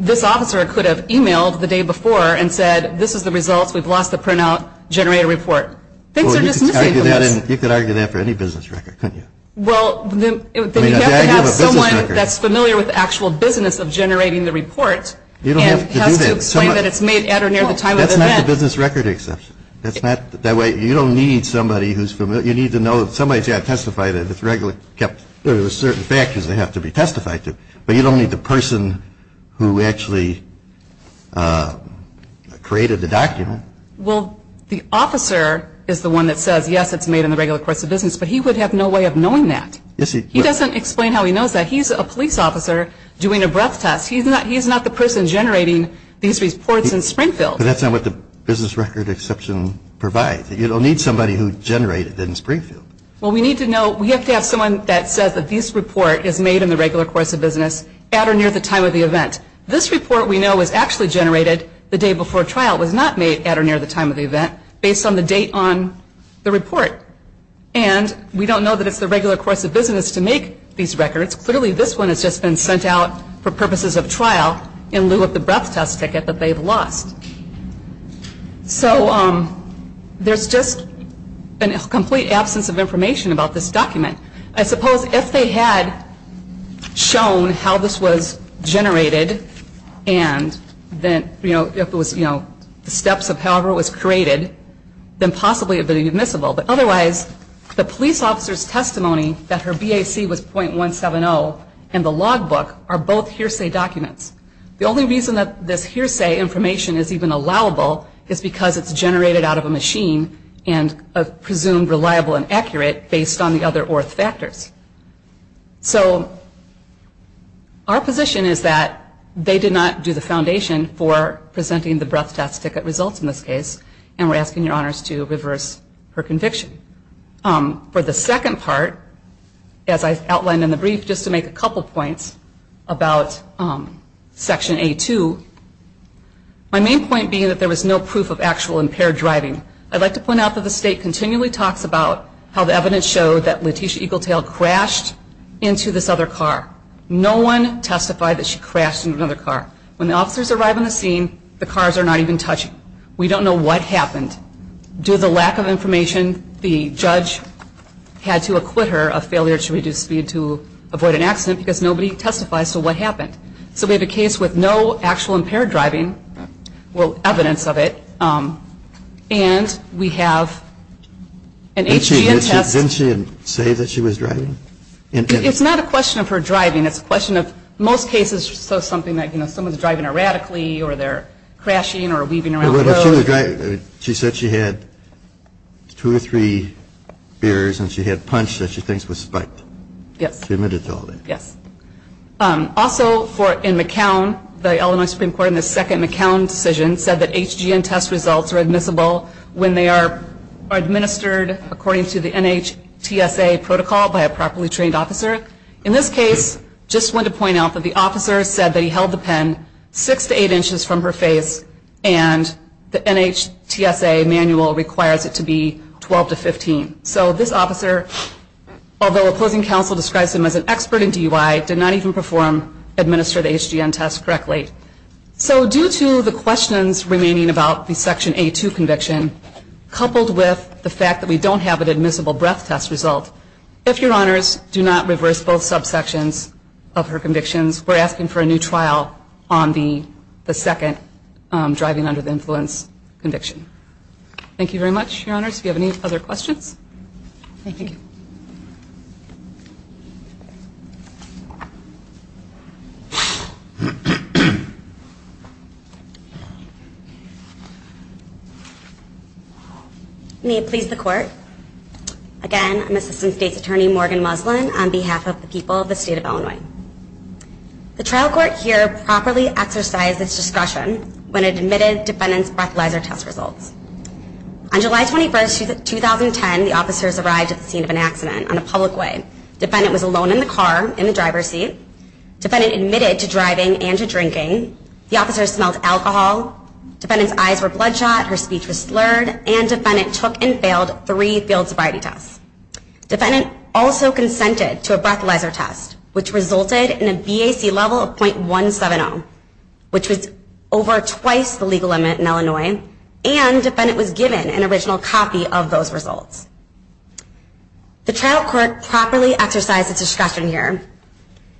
This officer could have emailed the day before and said, this is the results, we've lost the printout, generate a report. Things are just missing from this. Well, you could argue that for any business record, couldn't you? Well, then you have to have someone that's familiar with the actual business of generating the report. You don't have to do that. And has to explain that it's made at or near the time of event. Well, that's not the business record exception. That's not, that way, you don't need somebody who's familiar, you need to know, somebody's got to testify that it's regularly kept, there are certain factors that have to be testified to. But you don't need the person who actually created the document. Well, the officer is the one that says, yes, it's made in the regular course of business, but he would have no way of knowing that. He doesn't explain how he knows that. He's a police officer doing a breath test. He's not the person generating these reports in Springfield. But that's not what the business record exception provides. You don't need somebody who generated it in Springfield. Well, we need to know, we have to have someone that says that this report is made in the regular course of business at or near the time of the event. This report we know was actually generated the day before trial. It was not made at or near the time of the event based on the date on the report. And we don't know that it's the regular course of business to make these records. Clearly, this one has just been sent out for purposes of trial in lieu of the breath test ticket that they've lost. So there's just a complete absence of information about this document. I suppose if they had shown how this was generated and then, you know, if it was, you know, the steps of however it was created, then possibly it would have been admissible. But otherwise, the police officer's testimony that her BAC was .170 and the logbook are both hearsay documents. The only reason that this hearsay information is even allowable is because it's generated out of a machine and presumed reliable and accurate based on the other orth factors. So our position is that they did not do the foundation for presenting the breath test ticket results in this case and we're asking your honors to reverse her conviction. For the second part, as I outlined in the brief, just to make a couple points about Section A2. My main point being that there was no proof of actual impaired driving. I'd like to point out that the state continually talks about how the evidence showed that Letitia Eagletail crashed into this other car. No one testified that she crashed into another car. When the officers arrive on the scene, the cars are not even touching. We don't know what happened. Due to the lack of information, the judge had to acquit her of failure to reduce speed to avoid an accident because nobody testifies to what happened. So we have a case with no actual impaired driving, well, evidence of it, and we have an HGN test. Didn't she say that she was driving? It's not a question of her driving. It's a question of most cases, so something like someone's driving erratically or they're crashing or weaving around the road. She said she had two or three errors and she had punched that she thinks was spiked. Yes. She admitted to all that. Yes. Also, in McCown, the Illinois Supreme Court, in the second McCown decision, said that HGN test results are admissible when they are administered according to the NHTSA protocol by a properly trained officer. In this case, just want to point out that the officer said that he held the pen six to eight inches from her face and the NHTSA manual requires it to be 12 to 15. So this officer, although opposing counsel describes him as an expert in DUI, did not even administer the HGN test correctly. So due to the questions remaining about the Section A2 conviction, coupled with the fact that we don't have an admissible breath test result, if Your Honors do not reverse both subsections of her convictions, we're asking for a new trial on the second driving under the influence conviction. Thank you very much, Your Honors. Do you have any other questions? Thank you. May it please the Court. Again, I'm Assistant State's Attorney Morgan Muslin on behalf of the people of the State of Illinois. The trial court here properly exercised its discretion when it admitted defendant's breathalyzer test results. On July 21, 2010, the officers arrived at the scene of an accident on a public way. Defendant was alone in the car in the driver's seat. Defendant admitted to driving and to drinking. The officers smelled alcohol. Defendant's eyes were bloodshot. Her speech was slurred. And defendant took and failed three field sobriety tests. Defendant also consented to a breathalyzer test, which resulted in a BAC level of .170, which was over twice the legal limit in Illinois. And defendant was given an original copy of those results. The trial court properly exercised its discretion here.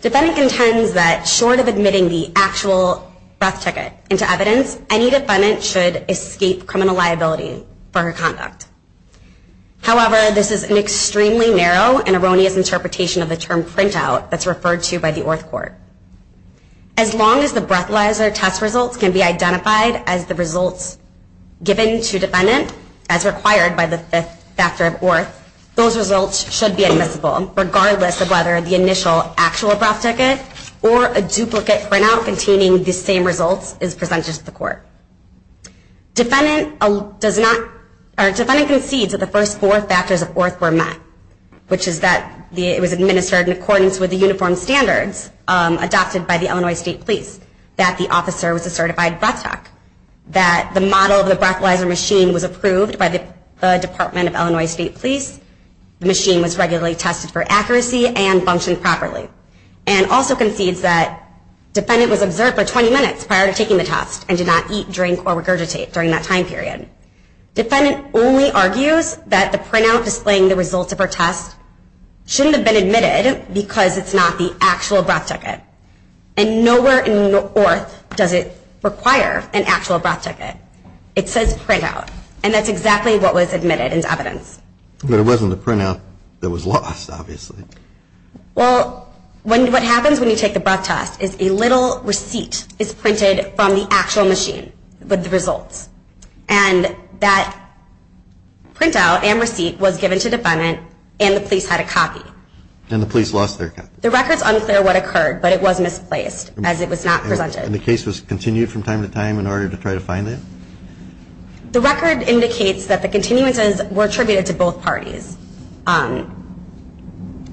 Defendant contends that short of admitting the actual breath ticket into evidence, any defendant should escape criminal liability for her conduct. However, this is an extremely narrow and erroneous interpretation of the term printout that's referred to by the Orth Court. As long as the breathalyzer test results can be identified as the results given to defendant, as required by the Fifth Factor of Orth, those results should be admissible, regardless of whether the initial actual breath ticket or a duplicate printout containing the same results is presented to the court. Defendant concedes that the first four factors of Orth were met, which is that it was administered in accordance with the uniform standards adopted by the Illinois State Police, that the officer was a certified breath doc, that the model of the breathalyzer machine was approved by the Department of Illinois State Police, the machine was regularly tested for accuracy and functioned properly, and also concedes that defendant was observed for 20 minutes prior to taking the test and did not eat, drink, or regurgitate during that time period. Defendant only argues that the printout displaying the results of her test shouldn't have been admitted because it's not the actual breath ticket. And nowhere in Orth does it require an actual breath ticket. It says printout, and that's exactly what was admitted into evidence. But it wasn't the printout that was lost, obviously. Well, what happens when you take the breath test is a little receipt is printed from the actual machine with the results. And that printout and receipt was given to defendant, and the police had a copy. And the police lost their copy. The record's unclear what occurred, but it was misplaced as it was not presented. And the case was continued from time to time in order to try to find it? The record indicates that the continuances were attributed to both parties.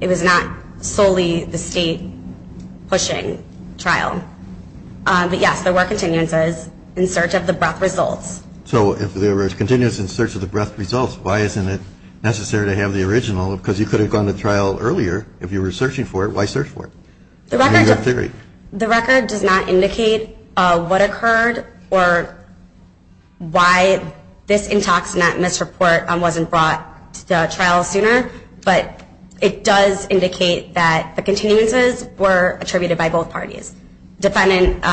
It was not solely the state-pushing trial. But, yes, there were continuances in search of the breath results. So if there were continuances in search of the breath results, why isn't it necessary to have the original? Because you could have gone to trial earlier if you were searching for it. Why search for it? The record does not indicate what occurred or why this intoxinant misreport wasn't brought to trial sooner. But it does indicate that the continuances were attributed by both parties. Defendant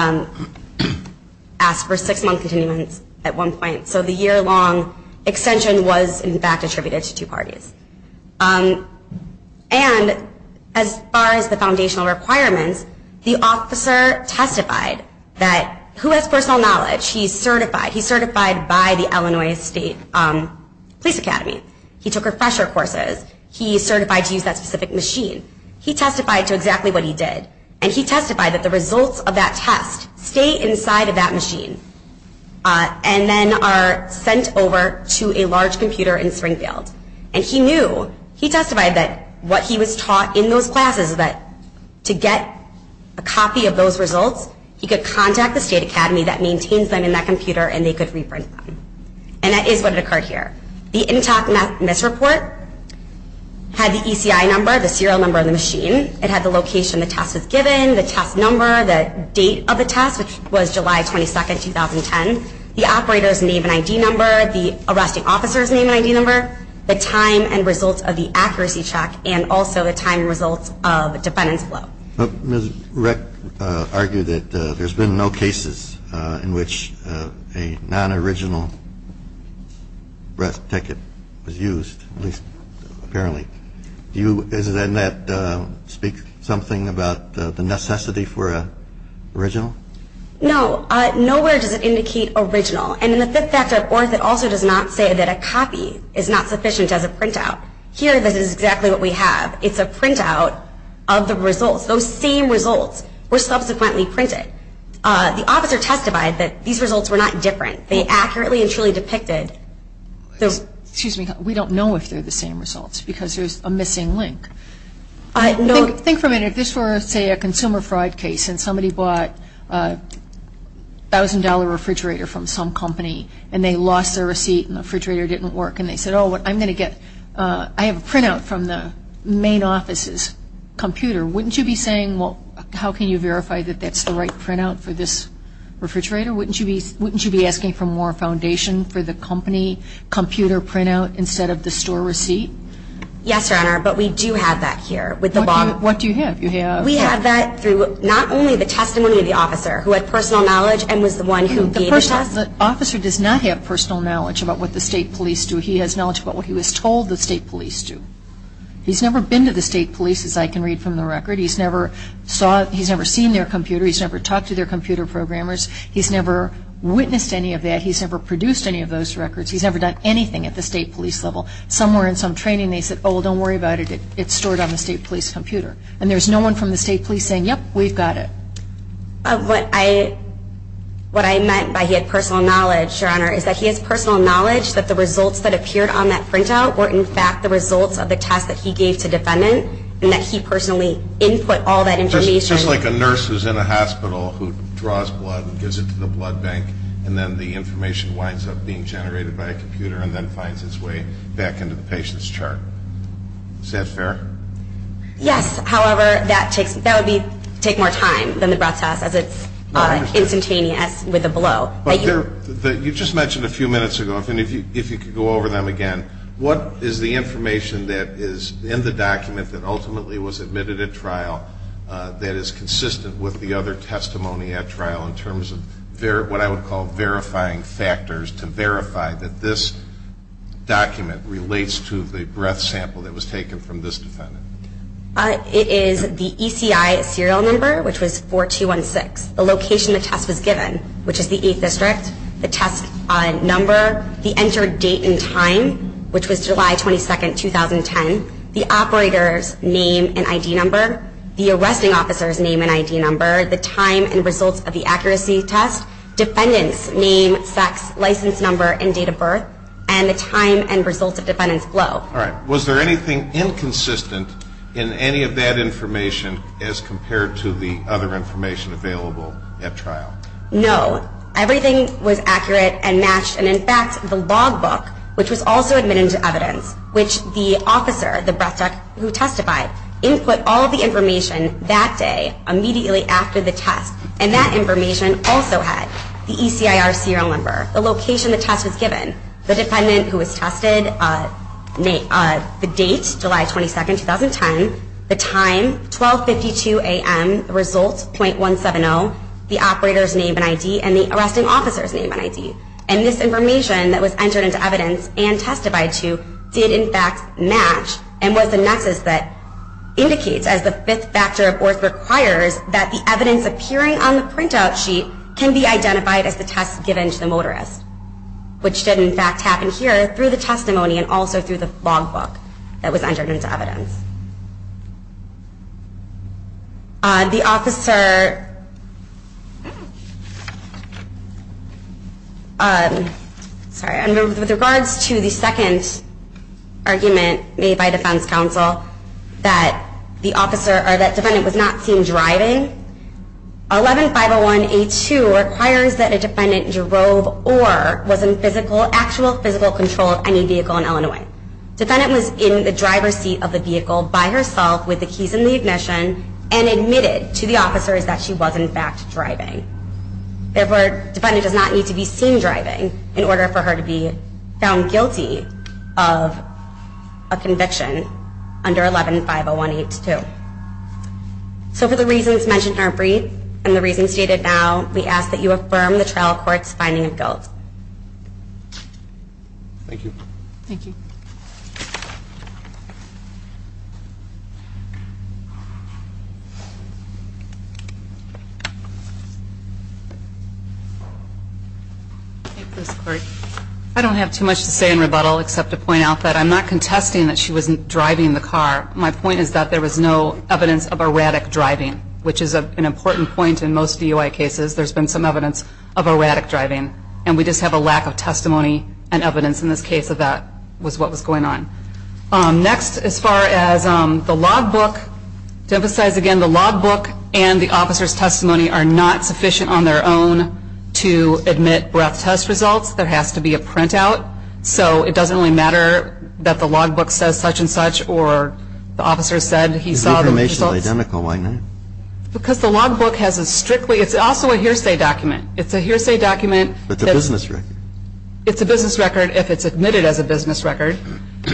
asked for six-month continuance at one point. So the year-long extension was, in fact, attributed to two parties. And as far as the foundational requirements, the officer testified that who has personal knowledge, he's certified. He's certified by the Illinois State Police Academy. He took refresher courses. He's certified to use that specific machine. He testified to exactly what he did. And he testified that the results of that test stay inside of that machine and then are sent over to a large computer in Springfield. And he knew. He testified that what he was taught in those classes is that to get a copy of those results, he could contact the State Academy that maintains them in that computer and they could reprint them. And that is what occurred here. The intox misreport had the ECI number, the serial number of the machine. It had the location the test was given, the test number, the date of the test, which was July 22, 2010. The operator's name and ID number, the arresting officer's name and ID number, the time and results of the accuracy check, and also the time and results of defendant's blow. Ms. Reck argued that there's been no cases in which a non-original breath ticket was used, at least apparently. Does that not speak something about the necessity for an original? No. Nowhere does it indicate original. And in the fifth factor of orth, it also does not say that a copy is not sufficient as a printout. Here, this is exactly what we have. It's a printout of the results. Those same results were subsequently printed. The officer testified that these results were not different. They accurately and truly depicted those. Excuse me. We don't know if they're the same results because there's a missing link. Think for a minute. If this were, say, a consumer fraud case and somebody bought a $1,000 refrigerator from some company and they lost their receipt and the refrigerator didn't work and they said, oh, I have a printout from the main office's computer, wouldn't you be saying, well, how can you verify that that's the right printout for this refrigerator? Wouldn't you be asking for more foundation for the company computer printout instead of the store receipt? Yes, Your Honor, but we do have that here. What do you have? We have that through not only the testimony of the officer, who had personal knowledge and was the one who gave the test. The officer does not have personal knowledge about what the state police do. He has knowledge about what he was told the state police do. He's never been to the state police, as I can read from the record. He's never seen their computer. He's never talked to their computer programmers. He's never witnessed any of that. He's never produced any of those records. He's never done anything at the state police level. Somewhere in some training they said, oh, well, don't worry about it. It's stored on the state police computer. And there's no one from the state police saying, yep, we've got it. What I meant by he had personal knowledge, Your Honor, is that he has personal knowledge that the results that appeared on that printout were, in fact, the results of the test that he gave to the defendant and that he personally input all that information. It's just like a nurse who's in a hospital who draws blood and gives it to the blood bank and then the information winds up being generated by a computer and then finds its way back into the patient's chart. Is that fair? Yes. However, that would take more time than the process as it's instantaneous with a blow. You just mentioned a few minutes ago, if you could go over them again, what is the information that is in the document that ultimately was admitted at trial that is consistent with the other testimony at trial in terms of what I would call verifying factors to verify that this document relates to the breath sample that was taken from this defendant? It is the ECI serial number, which was 4216, the location the test was given, which is the 8th District, the test number, the entered date and time, which was July 22, 2010, the operator's name and ID number, the arresting officer's name and ID number, the time and results of the accuracy test, defendant's name, sex, license number, and date of birth, and the time and results of defendant's blow. All right. Was there anything inconsistent in any of that information as compared to the other information available at trial? No. Everything was accurate and matched. And, in fact, the log book, which was also admitted into evidence, which the officer, the breath tech who testified, input all the information that day, immediately after the test, and that information also had the ECI serial number, the location the test was given, the defendant who was tested, the date, July 22, 2010, the time, 1252 a.m., the results, .170, the operator's name and ID, and the arresting officer's name and ID. And this information that was entered into evidence and testified to did, in fact, match and was the nexus that indicates, as the fifth factor of orth requires, that the evidence appearing on the printout sheet can be identified as the test given to the motorist, which did, in fact, happen here through the testimony and also through the log book that was entered into evidence. With regards to the second argument made by defense counsel that the defendant was not seen driving, 11501A2 requires that a defendant drove or was in actual physical control of any vehicle in Illinois. Defendant was in the driver's seat of the vehicle. with the keys in the ignition and admitted to the officers that she was, in fact, driving. Therefore, defendant does not need to be seen driving in order for her to be found guilty of a conviction under 11501A2. So for the reasons mentioned in our brief and the reasons stated now, we ask that you affirm the trial court's finding of guilt. Thank you. Thank you. I don't have too much to say in rebuttal except to point out that I'm not contesting that she wasn't driving the car. My point is that there was no evidence of erratic driving, which is an important point in most DUI cases. There's been some evidence of erratic driving. And we just have a lack of testimony and evidence in this case of that was what was going on. Next, as far as the logbook, to emphasize again, the logbook and the officer's testimony are not sufficient on their own to admit breath test results. There has to be a printout. So it doesn't really matter that the logbook says such and such or the officer said he saw the results. If the information is identical, why not? Because the logbook has a strictly, it's also a hearsay document. It's a hearsay document. It's a business record. It's a business record if it's admitted as a business record.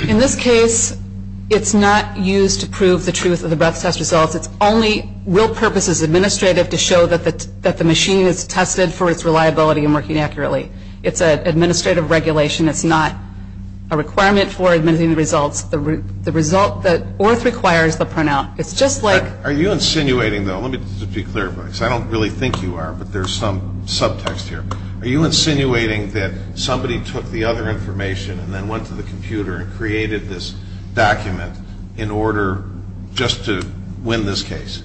In this case, it's not used to prove the truth of the breath test results. It's only real purpose as administrative to show that the machine is tested for its reliability and working accurately. It's an administrative regulation. It's not a requirement for admitting the results. The result that ORTH requires, the printout. It's just like. Are you insinuating, though? Let me just be clear about this. I don't really think you are, but there's some subtext here. Are you insinuating that somebody took the other information and then went to the computer and created this document in order just to win this case?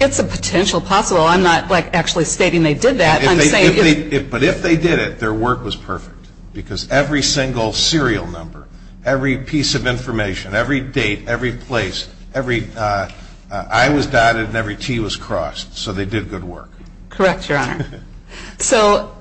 It's a potential possible. I'm not, like, actually stating they did that. But if they did it, their work was perfect because every single serial number, every piece of information, every date, every place, every I was dotted and every T was crossed. So they did good work. Correct, Your Honor. So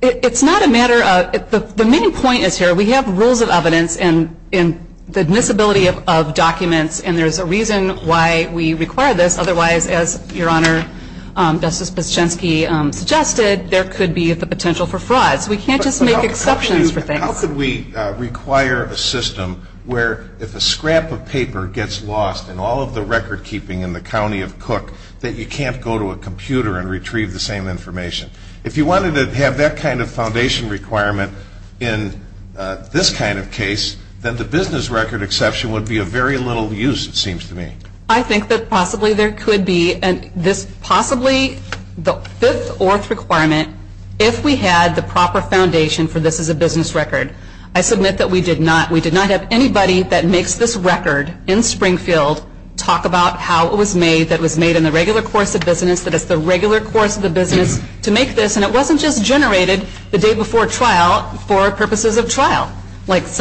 it's not a matter of. The main point is here we have rules of evidence and the admissibility of documents, and there's a reason why we require this. Otherwise, as Your Honor, Justice Piscinski suggested, there could be the potential for fraud. So we can't just make exceptions for things. How could we require a system where if a scrap of paper gets lost in all of the record keeping in the county of Cook that you can't go to a computer and retrieve the same information? If you wanted to have that kind of foundation requirement in this kind of case, then the business record exception would be of very little use, it seems to me. I think that possibly there could be. Possibly the fifth orth requirement, if we had the proper foundation for this as a business record, I submit that we did not have anybody that makes this record in Springfield talk about how it was made, that it was made in the regular course of business, that it's the regular course of the business to make this, and it wasn't just generated the day before trial for purposes of trial. If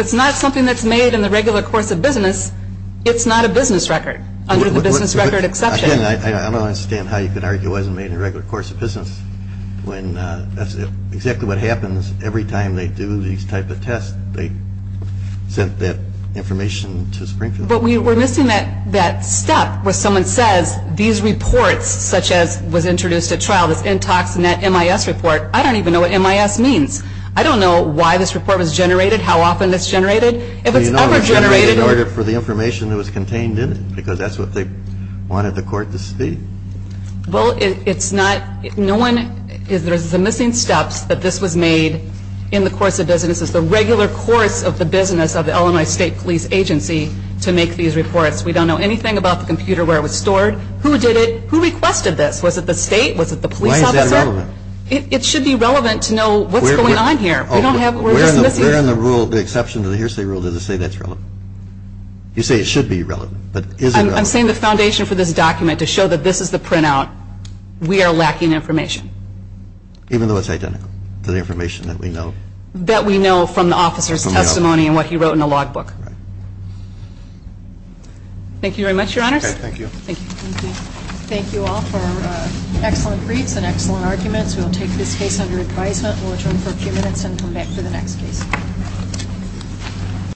it's not something that's made in the regular course of business, it's not a business record, under the business record exception. I don't understand how you can argue it wasn't made in the regular course of business when that's exactly what happens every time they do these type of tests. They sent that information to Springfield. But we're missing that step where someone says these reports, such as was introduced at trial, this IntoxNet MIS report, I don't even know what MIS means. I don't know why this report was generated, how often it's generated, if it's ever generated. You know it was generated in order for the information that was contained in it, because that's what they wanted the court to see. Well, it's not, no one, there's the missing steps that this was made in the course of business. It's the regular course of the business of the Illinois State Police Agency to make these reports. We don't know anything about the computer where it was stored. Who did it? Who requested this? Was it the state? Was it the police officer? Why is that relevant? It should be relevant to know what's going on here. We don't have, we're just missing. Where in the rule, the exception to the hearsay rule, does it say that's relevant? You say it should be relevant, but is it relevant? I'm saying the foundation for this document to show that this is the printout, we are lacking information. Even though it's identical to the information that we know? That we know from the officer's testimony and what he wrote in the logbook. Right. Thank you very much, Your Honors. Okay, thank you. Thank you. Thank you all for excellent briefs and excellent arguments. We will take this case under advisement. We'll adjourn for a few minutes and come back for the next case.